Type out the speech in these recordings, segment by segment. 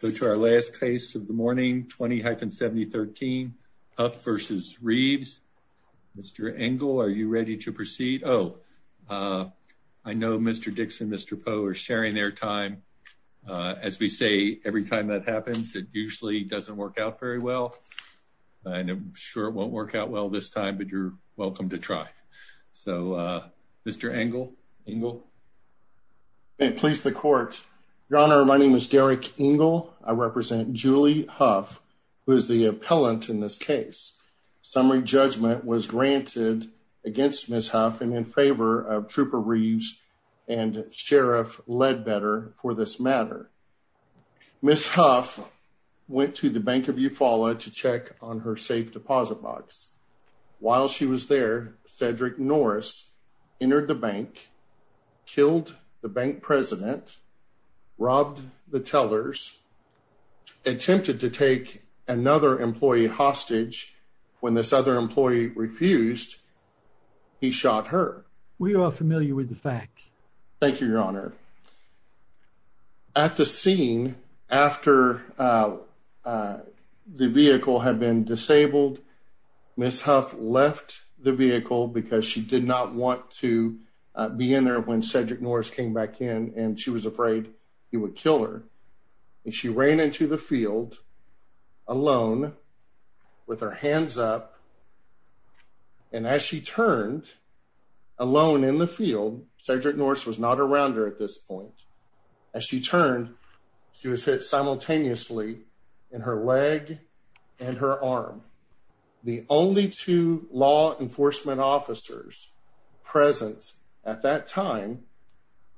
Go to our last case of the morning, 20-7013 Huff v. Reeves. Mr. Engle, are you ready to proceed? Oh, I know Mr. Dix and Mr. Poe are sharing their time. As we say, every time that happens, it usually doesn't work out very well. I'm sure it won't work out well this time, but you're welcome to try. So, Mr. Engle. Engle. May it please the court. Your Honor, my name is Derek Engle. I represent Julie Huff, who is the appellant in this case. Summary judgment was granted against Ms. Huff and in favor of Trooper Reeves and Sheriff Ledbetter for this matter. Ms. Huff went to the Bank of Eufaula to check on her safe deposit box. While she was there, Cedric Norris entered the bank, killed the bank president, robbed the tellers, attempted to take another employee hostage. When this other employee refused, he shot her. We are familiar with the facts. Thank you, Your Honor. At the scene, after the vehicle had been disabled, Ms. Huff left the vehicle because she did not want to be in there when Cedric Norris came back in, and she was afraid he would kill her. She ran into the field alone with her hands up, and as she turned alone in the field, Cedric Norris was not around her at this point. As she turned, she was hit simultaneously in her leg and her arm. The only two law enforcement officers present at that time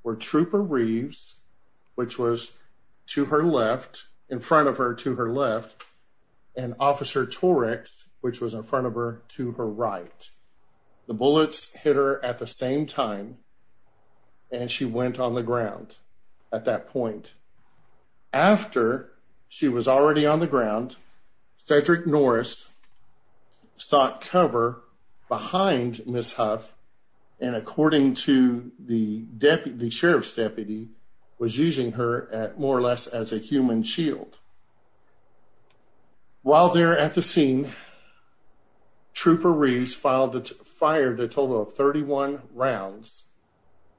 were Trooper Reeves, which was to her left, in front of her to her left, and Officer Torex, which was in front of her to her right. The bullets hit her at the same time and she went on the ground at that point. After she was already on the ground, Cedric Norris sought cover behind Ms. Huff, and according to the deputy, the sheriff's deputy, was using her at more or less as a human shield. While they're at the scene, Trooper Reeves fired a total of 31 rounds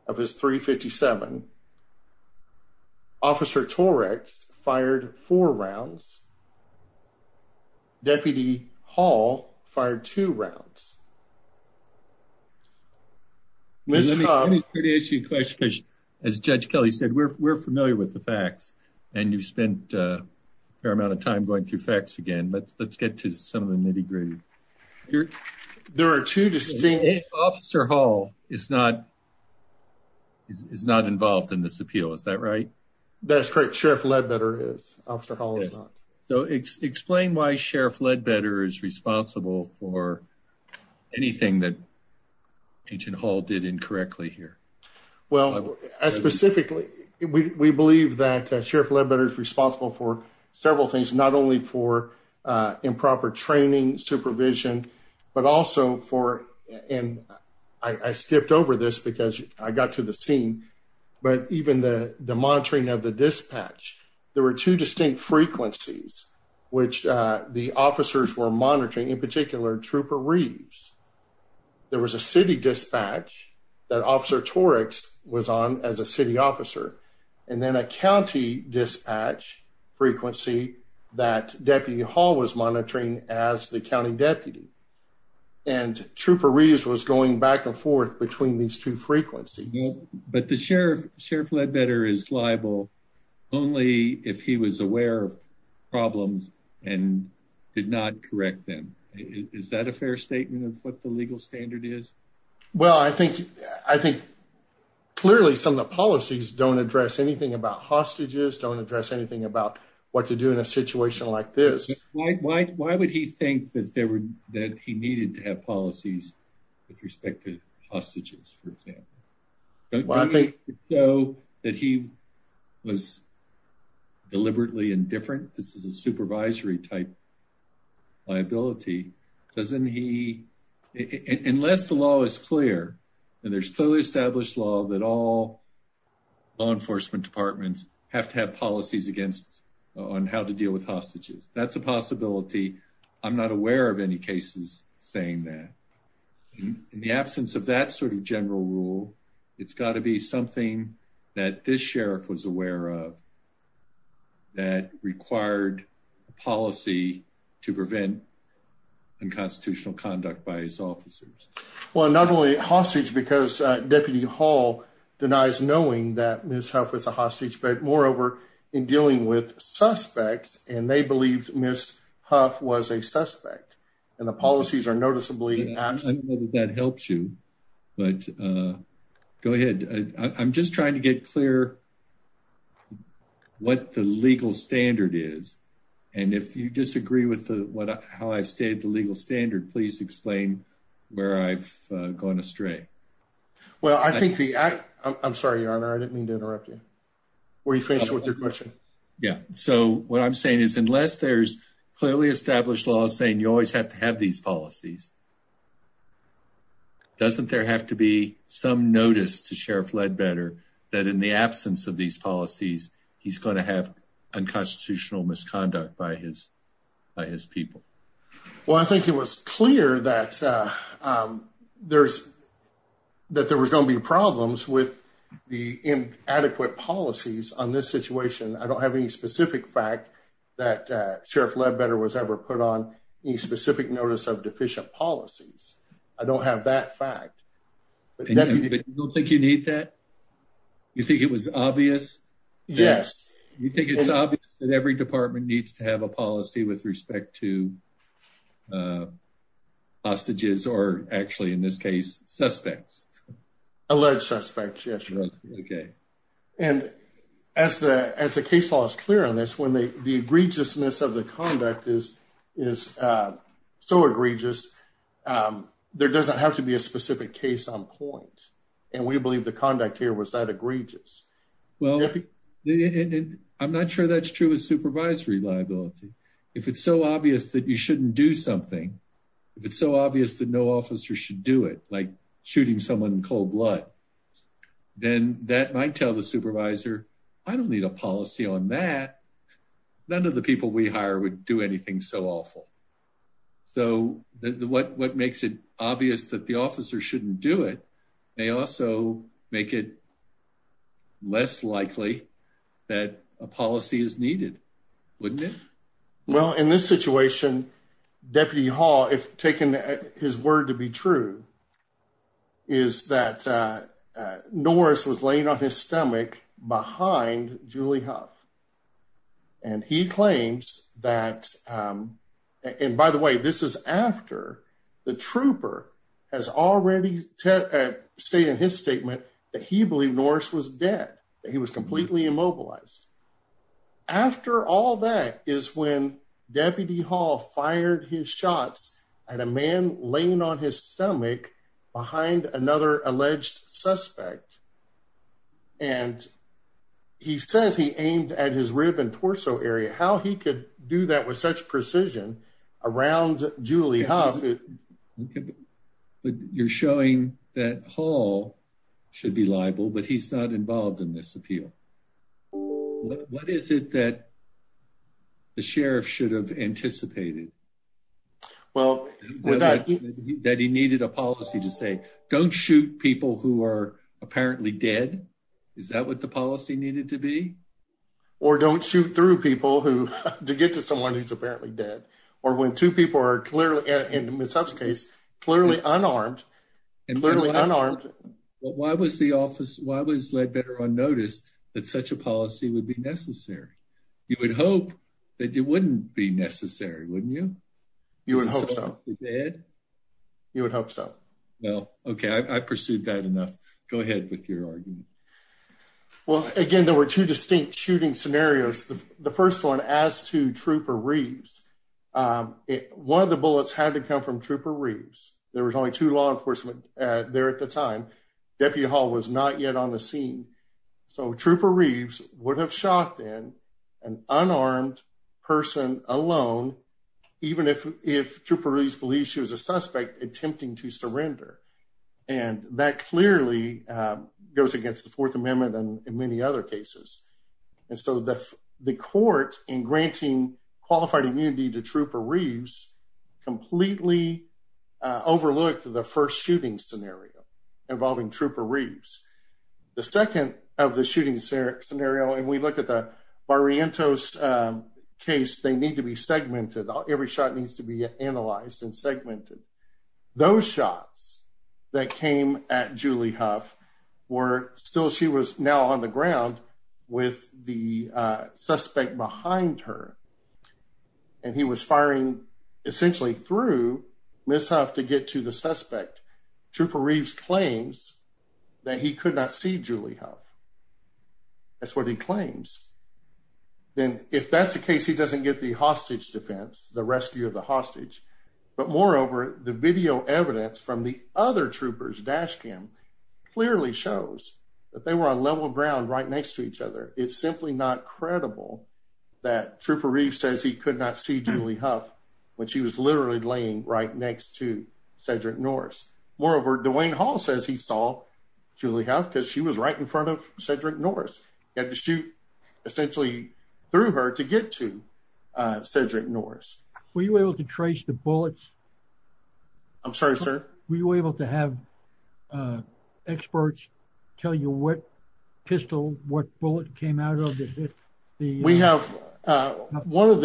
of his .357. Officer Torex fired four rounds. Deputy Hall fired two rounds. Ms. Huff... Let me ask you a question, because as Judge Kelly said, we're familiar with the facts, and you've spent a fair amount of time going through facts again, but let's get to some of the degree. There are two distinct... Officer Hall is not involved in this appeal, is that right? That's correct. Sheriff Ledbetter is. Officer Hall is not. So explain why Sheriff Ledbetter is responsible for anything that Agent Hall did incorrectly here. Well, specifically, we believe that Sheriff Ledbetter is responsible for several things, not only for improper training, supervision, but also for, and I skipped over this because I got to the scene, but even the monitoring of the dispatch. There were two distinct frequencies which the officers were monitoring, in particular Trooper Reeves. There was a city dispatch that Officer Torex was on as a city officer, and then a county dispatch frequency that Deputy Hall was monitoring as the county deputy. And Trooper Reeves was going back and forth between these two frequencies. But the Sheriff Ledbetter is liable only if he was aware of problems and did not correct them. Is that a fair statement of what the legal standard is? Well, I think clearly some of the policies don't address anything about hostages, don't address anything about what to do in a situation like this. Why would he think that he needed to have policies with respect to hostages, for example? I think that he was deliberately indifferent. This is a supervisory type liability. Unless the law is clear, and there's clearly established law that all law enforcement departments have to have policies on how to deal with hostages. That's a possibility. I'm not aware of any cases saying that. In the absence of that sort of general rule, it's got to be something that this Sheriff was aware of that required a policy to prevent unconstitutional conduct by his officers. Well, not only hostage, because Deputy Hall denies knowing that Ms. Huff was a hostage, but moreover, in dealing with suspects, and they believed Ms. Huff was a suspect. And the policies are noticeably absent. I don't know if that helps you, but go ahead. I'm just trying to get clear what the legal standard is. And if you disagree with how I've stated the legal standard, please explain where I've gone astray. Well, I think the... I'm sorry, Your Honor. I didn't mean to interrupt you. Were you faced with your question? Yeah. So what I'm saying is unless there's clearly established laws saying you always have to have these policies, doesn't there have to be some notice to Sheriff Ledbetter that in the absence of these policies, he's going to have unconstitutional misconduct by his people? Well, I think it was clear that there was going to be problems with the inadequate policies on this situation. I don't have any specific fact that Sheriff Ledbetter was ever put on any specific notice of deficient policies. I don't have that fact. But you don't think you need that? You think it was obvious? Yes. You think it's obvious that every department needs to have a policy with respect to hostages or actually, in this case, suspects? Alleged suspects, yes, Your Honor. Okay. And as the case law is clear on this, when the egregiousness of the conduct is so egregious, there doesn't have to be a specific case on point. And we believe the conduct here was that egregious. Well, I'm not sure that's true of supervisory liability. If it's so obvious that you shouldn't do something, if it's so obvious that no officer should do it, like shooting someone in cold blood, then that might tell the supervisor, I don't need a policy on that. None of the people we hire would do anything so awful. So what makes it obvious that the less likely that a policy is needed, wouldn't it? Well, in this situation, Deputy Hall, if taken his word to be true, is that Norris was laying on his stomach behind Julie Huff. And he claims that, and by the way, this is after the trooper has already stated in his statement that he believed Norris was dead, that he was completely immobilized. After all that is when Deputy Hall fired his shots at a man laying on his stomach behind another alleged suspect. And he says he aimed at his rib and torso area. How he could do that with such precision around Julie Huff. You're showing that Hall should be liable, but he's not involved in this appeal. What is it that the sheriff should have anticipated? That he needed a policy to say, don't shoot people who are apparently dead. Is that what the policy needed to be? Or don't shoot through people to get to someone who's apparently dead. Or when two people are clearly, in Ms. Huff's case, clearly unarmed, clearly unarmed. Why was the office, why was Ledbetter on notice that such a policy would be necessary? You would hope that it wouldn't be necessary, wouldn't you? You would hope so. You would hope so. No. Okay. I pursued that enough. Go ahead with your argument. Well, again, there were two distinct shooting scenarios. The first one as to Trooper Reeves, one of the bullets had to come from Trooper Reeves. There was only two law enforcement there at the time. Deputy Hall was not yet on the scene. So Trooper Reeves would have shot then an unarmed person alone, even if Trooper Reeves believes she was a suspect attempting to surrender. And that clearly goes against the Fourth Amendment and many other cases. And so the court in granting qualified immunity to Trooper Reeves completely overlooked the first shooting scenario involving Trooper Reeves. The second of the shooting scenario, and we look at the Barrientos case, they need to be segmented. Every shot needs to be analyzed and segmented. Those shots that came at Julie Huff were still, she was now on the ground with the suspect behind her. And he was firing essentially through Ms. Huff to get to the suspect. Trooper Reeves claims that he could not see Julie Huff. That's what he claims. Then if that's the case, he doesn't get the hostage defense, the rescue of the hostage. But moreover, the video evidence from the other troopers, dash cam, clearly shows that they were on level ground right next to each other. It's simply not credible that Trooper Reeves says he could not see Julie Huff when she was literally laying right next to Cedric Norris. Moreover, Dwayne Hall says he saw Julie Huff because she was right in front of Cedric Norris. He had to shoot essentially through her to get to Cedric Norris. Were you able to have experts tell you what pistol, what bullet came out of it? We have one of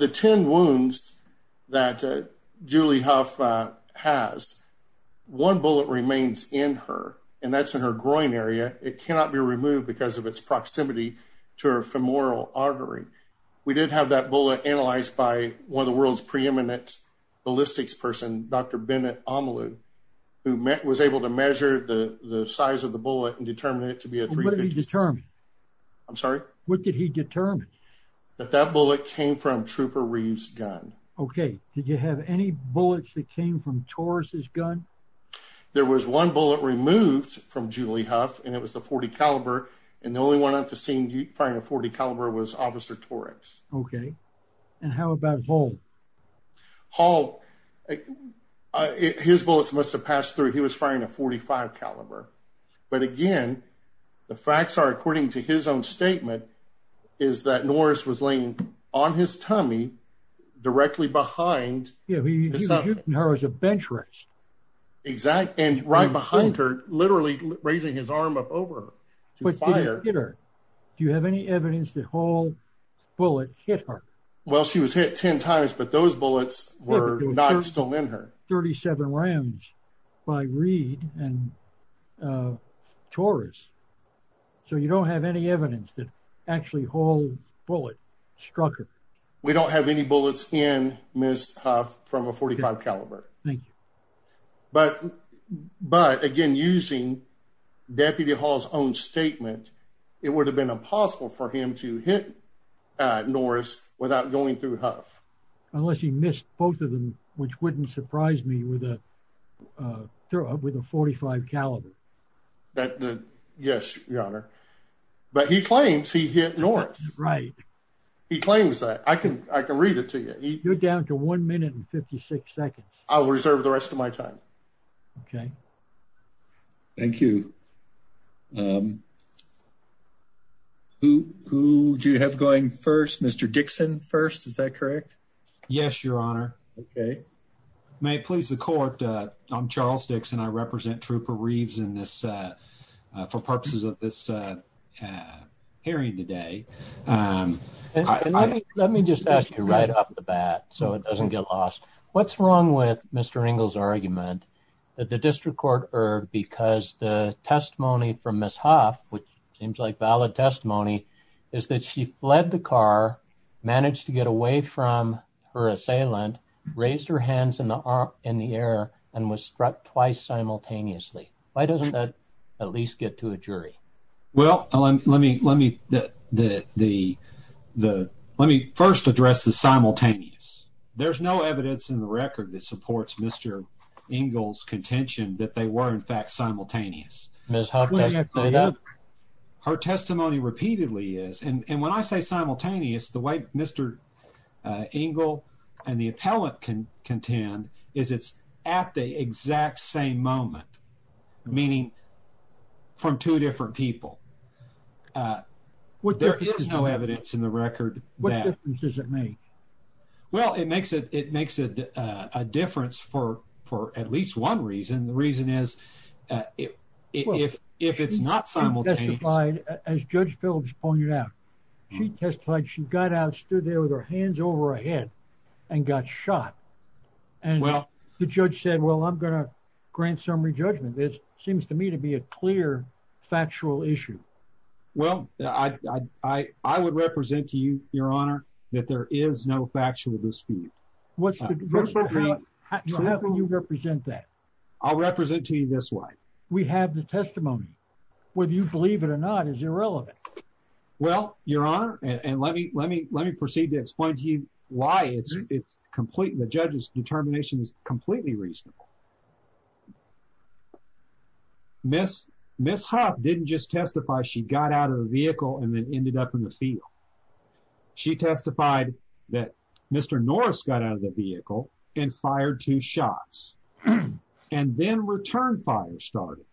the 10 wounds that Julie Huff has, one bullet remains in her, and that's in her groin area. It cannot be removed because of its proximity to her femoral artery. We did have that bullet analyzed by one of the world's preeminent ballistics person, Dr. Bennett Omalu, who was able to measure the size of the bullet and determine it to be a... What did he determine? I'm sorry? What did he determine? That that bullet came from Trooper Reeves' gun. Okay. Did you have any bullets that came from Torres' gun? There was one bullet removed from Julie Huff, and it was the .40 caliber, and the only one on the scene firing a .40 caliber was Officer Torres. Okay. And how about Vole? Hull, his bullets must have passed through. He was firing a .45 caliber, but again, the facts are, according to his own statement, is that Norris was laying on his tummy, directly behind... Yeah, he was shooting her as a bench rest. Exactly, and right behind her, literally raising his arm up over her to fire. Do you have any evidence that Hull's bullet hit her? Well, she was hit 10 times, but those bullets were not still in her. 37 rounds by Reed and Torres, so you don't have any evidence that actually Hull's bullet struck her? We don't have any bullets in Ms. Huff from a .45 caliber. Thank you. But again, using Deputy Hull's own testimony, we don't have any evidence that Hull's bullet hit Ms. Huff without going through Huff. Unless he missed both of them, which wouldn't surprise me with a .45 caliber. Yes, Your Honor, but he claims he hit Norris. Right. He claims that. I can read it to you. You're down to one minute and 56 seconds. I'll reserve the rest of my time. Okay. Thank you. Who do you have going first? Mr. Dixon first, is that correct? Yes, Your Honor. May it please the court, I'm Charles Dixon. I represent Trooper Reeves for purposes of this hearing today. Let me just ask you right off the bat so it doesn't get lost. What's wrong with Mr. Engel's argument that the district court erred because the testimony from Ms. Huff, which seems like valid testimony, is that she fled the car, managed to get away from her assailant, raised her hands in the air, and was struck twice simultaneously. Why doesn't that at least get to a jury? Well, let me first address the simultaneous. There's no evidence in the record that supports Mr. Engel's contention that they were, in fact, simultaneous. Ms. Huff doesn't say that. Her testimony repeatedly is, and when I say simultaneous, the way Mr. Engel and the appellant contend is it's at the exact same moment, meaning from two different people. There is no evidence in the record. What difference does it make? Well, it makes a difference for at least one reason. The reason is if it's not simultaneous. She testified, as Judge Phillips pointed out, she testified she got out, stood there with her hands over her head and got shot. And the judge said, well, I'm going to grant summary judgment. It seems to me to be a clear factual issue. Well, I would represent to you, Your Honor, that there is no factual dispute. So how can you represent that? I'll represent to you this way. We have the testimony. Whether you believe it or not is irrelevant. Well, Your Honor, and let me proceed to explain to you why the judge's determination is completely reasonable. Ms. Huff didn't just testify she got out of the vehicle and then ended up in the field. She testified that Mr. Norris got out of the vehicle and fired two shots and then returned fire started.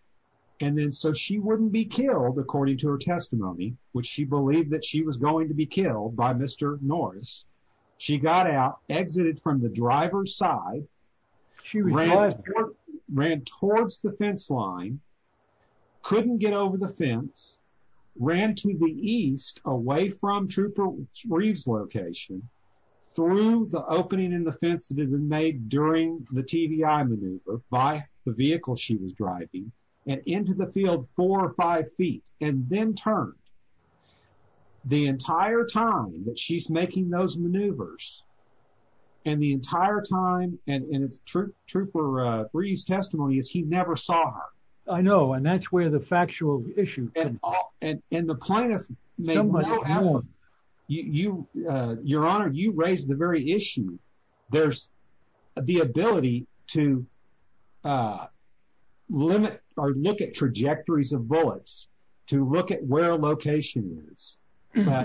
And then so she wouldn't be killed, according to her testimony, which she believed that she was going to be killed by Mr. Norris. She got out, exited from the driver's side, ran towards the fence line, couldn't get over the fence, ran to the east away from Trooper Reeves' location through the opening in the fence that had been during the TBI maneuver by the vehicle she was driving, and into the field four or five feet, and then turned. The entire time that she's making those maneuvers, and the entire time, and it's Trooper Reeves' testimony, is he never saw her. I know, and that's where the factual issue comes up. And the plaintiff may well have one. Your Honor, you raise the very issue. There's the ability to limit or look at trajectories of bullets, to look at where a location is, and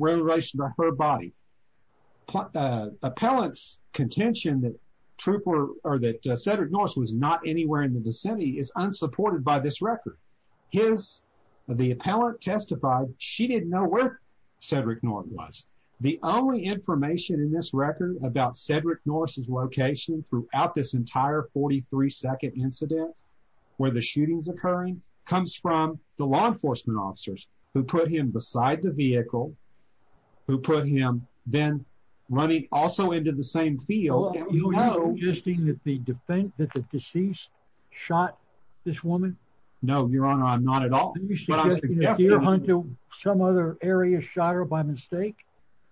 where in relation to her body. Appellant's contention that Trooper, or that Cedric Norris was not anywhere in the vicinity is unsupported by this record. The appellant testified she didn't know where Cedric Norris was. The only information in this record about Cedric Norris' location throughout this entire 43-second incident, where the shooting's occurring, comes from the law enforcement officers who put him beside the vehicle, who put him then running also into the same field. Are you suggesting that the deceased shot this woman? No, Your Honor, I'm not at all. Are you suggesting that Deerhunter, some other area, shot her by mistake?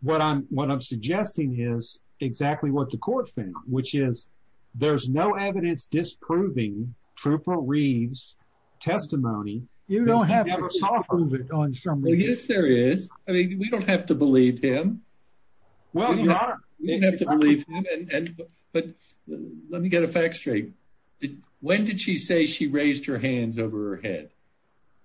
What I'm suggesting is exactly what the court found, which is there's no evidence disproving Trooper Reeves' testimony. You don't have to disprove it on some reason. Yes, there is. I mean, we don't have to believe him. You don't have to believe him, but let me get a fact straight. When did she say she raised her hands over her head?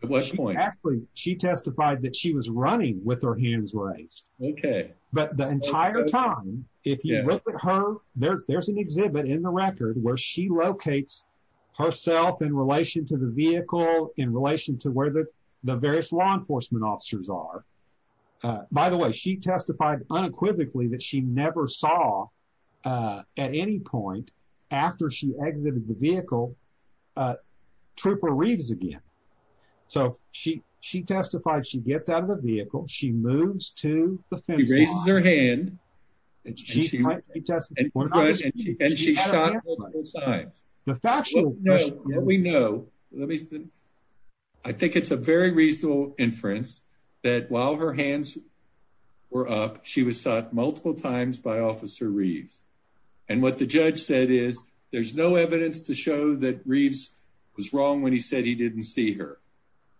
At what point? Actually, she testified that she was running with her hands raised. Okay. But the entire time, if you look at her, there's an exhibit in the record where she locates herself in relation to the vehicle, in relation to where the various law enforcement officers are. By the way, she testified unequivocally that she never saw, at any point, after she exited the vehicle, Trooper Reeves again. So she testified she gets out of the vehicle, she moves to the fence. She raises her hand, and she shot multiple times. The factual... We know. I think it's a very reasonable inference that while her hands were up, she was shot multiple times by Officer Reeves. And what the judge said is, there's no evidence to show that Reeves was wrong when he said he didn't see her.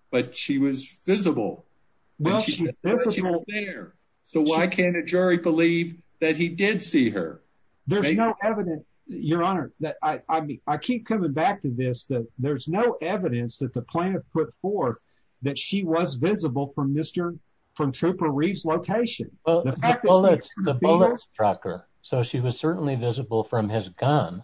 But she was visible. She was there. So why can't a jury believe that he did see her? There's no evidence, Your Honor. I keep coming back to this, that there's no evidence that the plaintiff put forth that she was visible from Trooper Reeves' location. Well, the bullet struck her. So she was certainly visible from his gun.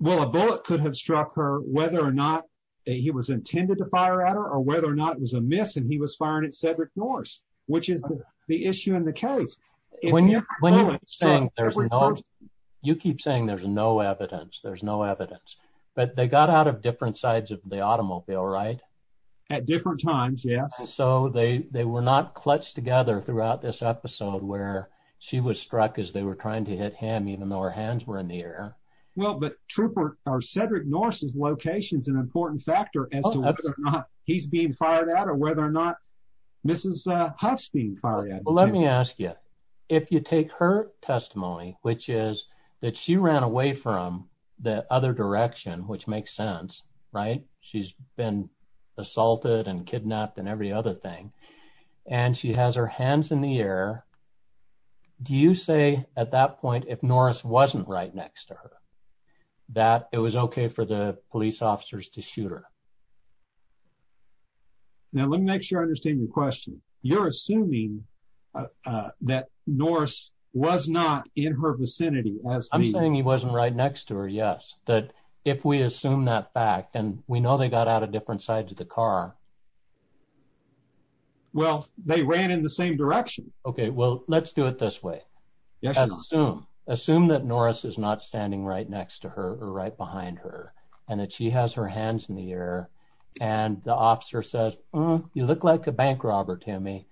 Well, a bullet could have struck her whether or not he was intended to fire at her or whether or not it was a miss and he was firing at Cedric Norse. You keep saying there's no evidence. There's no evidence. But they got out of different sides of the automobile, right? At different times, yes. So they were not clutched together throughout this episode where she was struck as they were trying to hit him, even though her hands were in the air. Well, but Cedric Norse's location is an important factor as to whether or not he's being fired at or whether or not Huff's being fired at. Well, let me ask you, if you take her testimony, which is that she ran away from the other direction, which makes sense, right? She's been assaulted and kidnapped and every other thing. And she has her hands in the air. Do you say at that point, if Norse wasn't right next to her, that it was okay for the police officers to shoot her? Now, let me make sure I question. You're assuming that Norse was not in her vicinity. I'm saying he wasn't right next to her. Yes. That if we assume that fact and we know they got out of different sides of the car. Well, they ran in the same direction. Okay. Well, let's do it this way. Assume that Norse is not standing right next to her or right behind her and that she has her hands in the air and the officer says, you look like a bank robber, Timmy.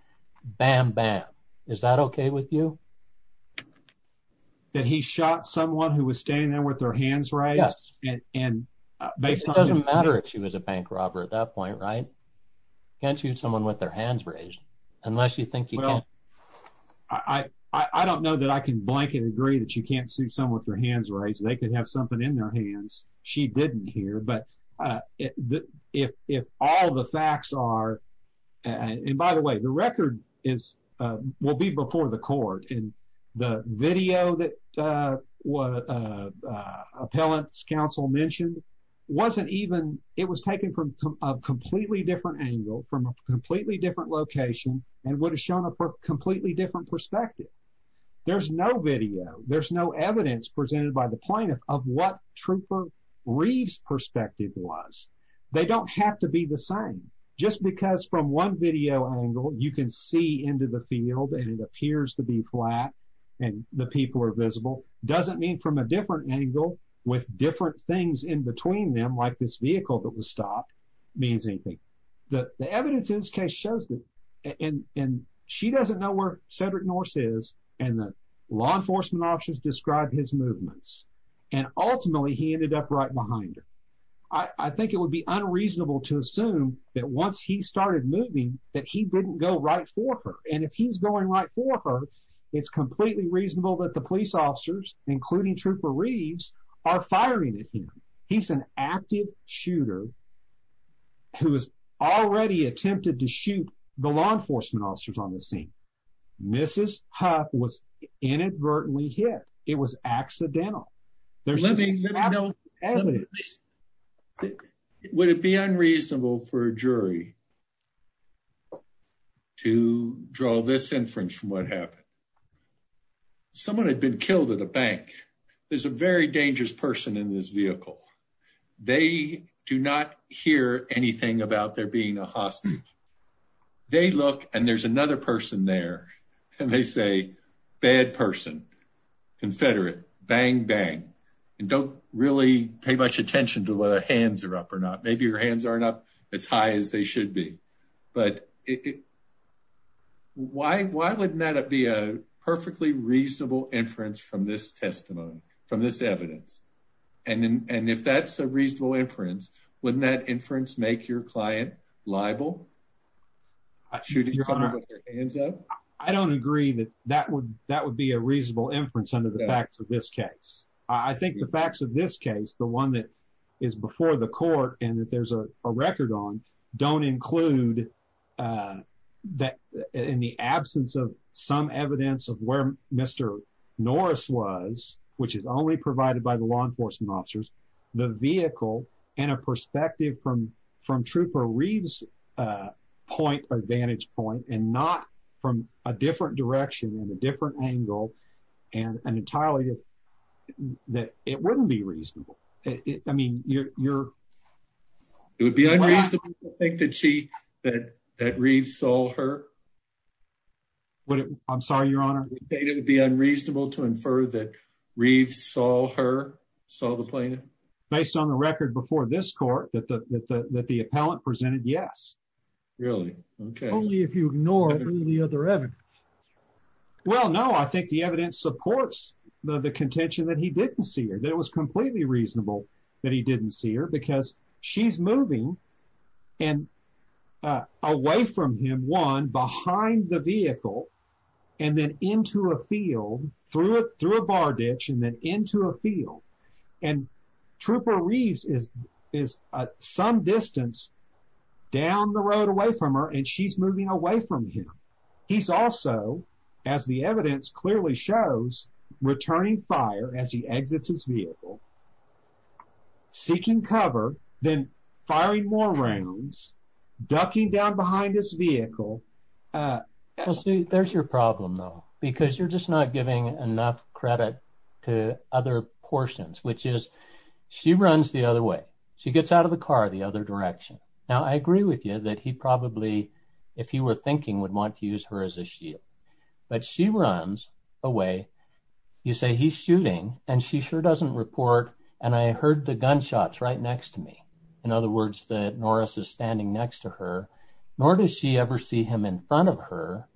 Bam, bam. Is that okay with you? That he shot someone who was standing there with their hands raised? Yes. And it doesn't matter if she was a bank robber at that point, right? Can't shoot someone with their hands raised unless you think you can. Well, I don't know that I can blanket agree that you can't shoot someone with hands raised. They could have something in their hands. She didn't hear. But if all the facts are, and by the way, the record is, uh, will be before the court and the video that, uh, what, uh, uh, appellant's counsel mentioned wasn't even, it was taken from a completely different angle, from a completely different location and would have shown a completely different perspective. There's no video. There's no evidence presented by the plaintiff of what Trooper Reeves' perspective was. They don't have to be the same just because from one video angle, you can see into the field and it appears to be flat and the people are visible. Doesn't mean from a different angle with different things in between them, like this vehicle that was stopped means anything. The law enforcement officers described his movements and ultimately he ended up right behind her. I think it would be unreasonable to assume that once he started moving that he didn't go right for her. And if he's going right for her, it's completely reasonable that the police officers, including Trooper Reeves, are firing at him. He's an active shooter who has already attempted to inadvertently hit her. It was accidental. Would it be unreasonable for a jury to draw this inference from what happened? Someone had been killed at a bank. There's a very dangerous person in this vehicle. They do not hear anything about there being a hostage. They look and there's another person there and they say, bad person, confederate, bang, bang. And don't really pay much attention to whether hands are up or not. Maybe your hands aren't up as high as they should be. But why wouldn't that be a perfectly reasonable inference from this testimony, from this evidence? And if that's a reasonable inference, wouldn't that inference make your libel? I don't agree that that would be a reasonable inference under the facts of this case. I think the facts of this case, the one that is before the court and that there's a record on, don't include that in the absence of some evidence of where Mr. Norris was, which is only provided by the law enforcement officers, the vehicle and a perspective from Trooper Reeve's point, advantage point, and not from a different direction and a different angle and entirely that it wouldn't be reasonable. It would be unreasonable to think that Reeve saw her. I'm sorry, Your Honor. It would be unreasonable to infer that Reeve saw her, saw the plaintiff? Based on the record before this court that the appellant presented, yes. Really? Okay. Only if you ignore the other evidence. Well, no, I think the evidence supports the contention that he didn't see her. That it was completely reasonable that he didn't see her because she's moving and away from him, one, behind the vehicle and then into a field, through a bar ditch and then into a field. And Trooper Reeve is some distance down the road away from her and she's moving away from him. He's also, as the evidence clearly shows, returning fire as he exits his vehicle, seeking cover, then firing more rounds, ducking down behind his vehicle. Well, see, there's your problem, though, because you're just not giving enough credit to other portions, which is she runs the other way. She gets out of the car the other direction. Now, I agree with you that he probably, if he were thinking, would want to use her as a shield. But she runs away. You say, he's shooting and she sure doesn't report. And I heard the gunshots right next to me. In other words, that Norris is standing next to her, nor does she ever see him in front of her.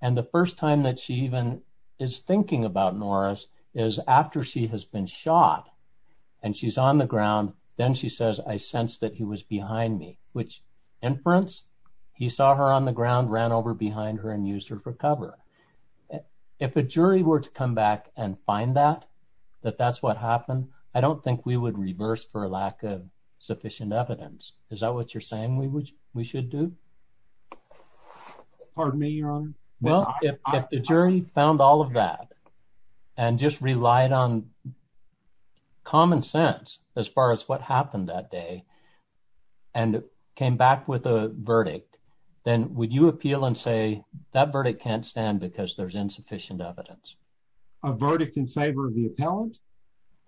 And the first time that she even is thinking about Norris is after she has been shot and she's on the ground. Then she says, I sensed that he was behind me, which inference, he saw her on the ground, ran over behind her and used her for cover. If a jury were to come back and find that, that that's what happened, I don't think we would reverse for a lack of sufficient evidence. Is that what you're saying we should do? Pardon me, Your Honor? No, if the jury found all of that and just relied on common sense as far as what happened that day and came back with a verdict, then would you appeal and say that verdict can't stand because there's insufficient evidence? A verdict in favor of the appellant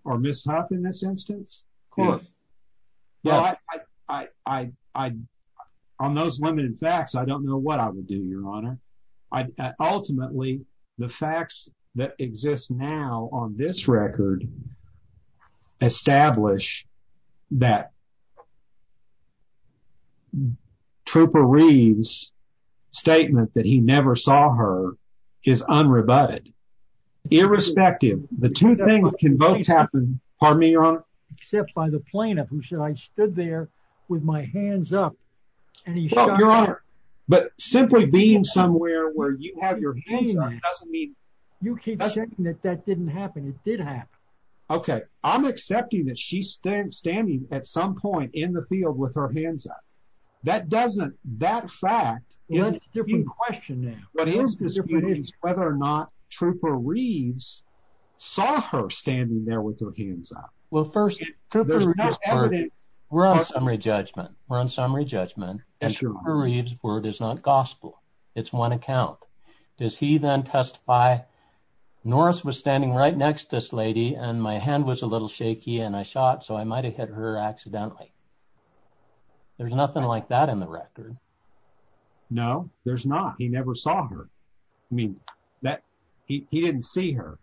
or Ms. Huff in this instance? Of course. On those limited facts, I don't know what I would do, Your Honor. Ultimately, the facts that exist now on this record establish that Trooper Reeves' statement that he never saw her is unrebutted. Irrespective, the two things can both happen. Pardon me, Your Honor? Except by the plaintiff who said, I stood there with my hands up and he shot her. But simply being somewhere where you have your hands up doesn't mean... You keep saying that that didn't happen. It did happen. Okay, I'm accepting that she's standing at some point in the field with her hands up. That fact is a different question now. What is different is whether or not Trooper Reeves saw her standing there with her hands up. Well, first, there's no evidence. We're on summary judgment. We're on summary judgment. Word is not gospel. It's one account. Does he then testify, Norris was standing right next to this lady, and my hand was a little shaky and I shot, so I might have hit her accidentally. There's nothing like that in the record. No, there's not. He never saw her. I mean, he didn't see her.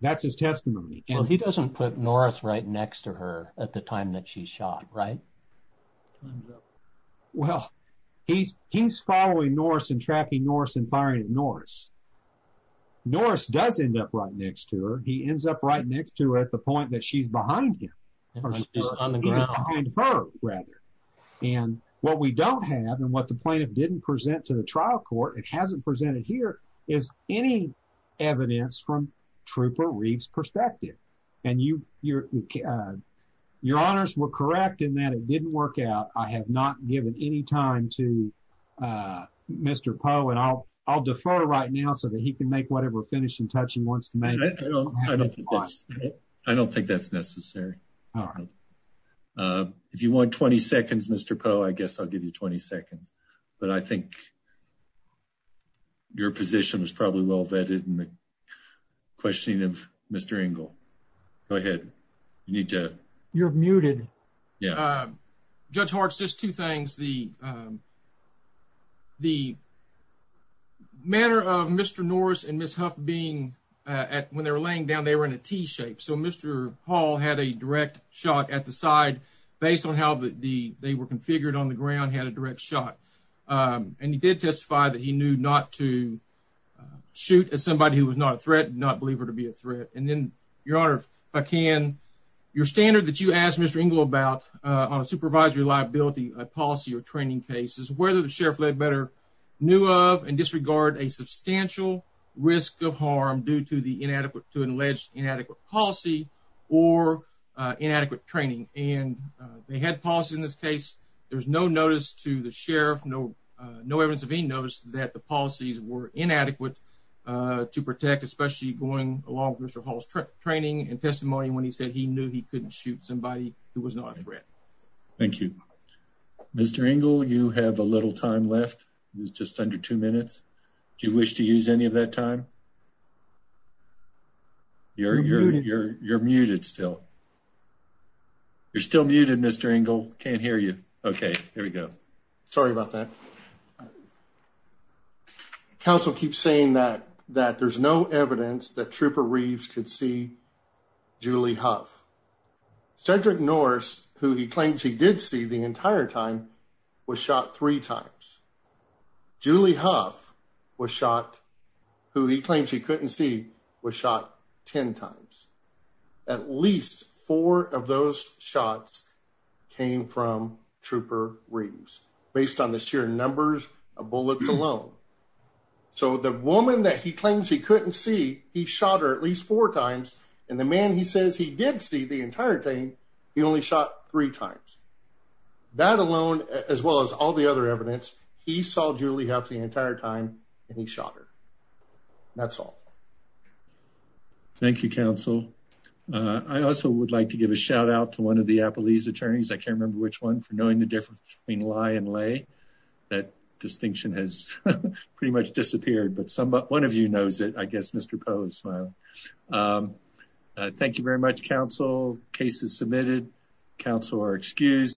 That's his testimony. He doesn't put Norris right next to her at the time that she shot, right? Time's up. Well, he's following Norris and tracking Norris and firing at Norris. Norris does end up right next to her. He ends up right next to her at the point that she's behind him, or she's behind her, rather. And what we don't have and what the plaintiff didn't present to the trial court, it hasn't presented here, is any evidence from Trooper Reeves' perspective. And your honors were correct in that it didn't work out. I have not given any time to Mr. Poe. And I'll defer right now so that he can make whatever finishing touch he wants to make. I don't think that's necessary. If you want 20 seconds, Mr. Poe, I guess I'll give you 20 seconds. But I think your position was probably well vetted in the questioning of Mr. Engle. Go ahead. You need to- You're muted. Yeah. Judge Harts, just two things. The manner of Mr. Norris and Ms. Huff being at, when they were laying down, they were in a T-shape. So Mr. Hall had a direct shot at the side based on how they were configured on the ground, had a direct shot. And he did testify that he knew not to shoot at somebody who was not a threat, did not believe her to be a threat. And then, Your Honor, if I can, your standard that you asked Mr. Engle about on a supervisory liability policy or training case is whether the sheriff led better knew of and disregard a substantial risk of harm due to an alleged inadequate policy or inadequate training. And they had policy in this case. There was no notice to the sheriff, no evidence of any notice that the policies were inadequate to protect, especially going along with Mr. Hall's training and testimony when he said he knew he couldn't shoot somebody who was not a threat. Thank you. Mr. Engle, you have a little time left. It's just under two minutes. Do you wish to use any of that time? You're muted still. You're still muted, Mr. Engle. Can't hear you. Okay, here we go. Sorry about that. Okay. Counsel keeps saying that there's no evidence that Trooper Reeves could see Julie Huff. Cedric Norris, who he claims he did see the entire time, was shot three times. Julie Huff was shot, who he claims he couldn't see, was shot 10 times. At least four of those shots came from Trooper Reeves based on the sheer numbers of bullets alone. So the woman that he claims he couldn't see, he shot her at least four times, and the man he says he did see the entire time, he only shot three times. That alone, as well as all the other evidence, he saw Julie Huff the entire time and he shot her. That's all. Thank you, counsel. I also would like to give a shout out to one of the Appalese attorneys, I can't remember which one, for knowing the difference between lie and lay. That distinction has pretty much disappeared, but one of you knows it. I guess Mr. Poe is smiling. Thank you very much, counsel. Case is submitted. Counsel are excused.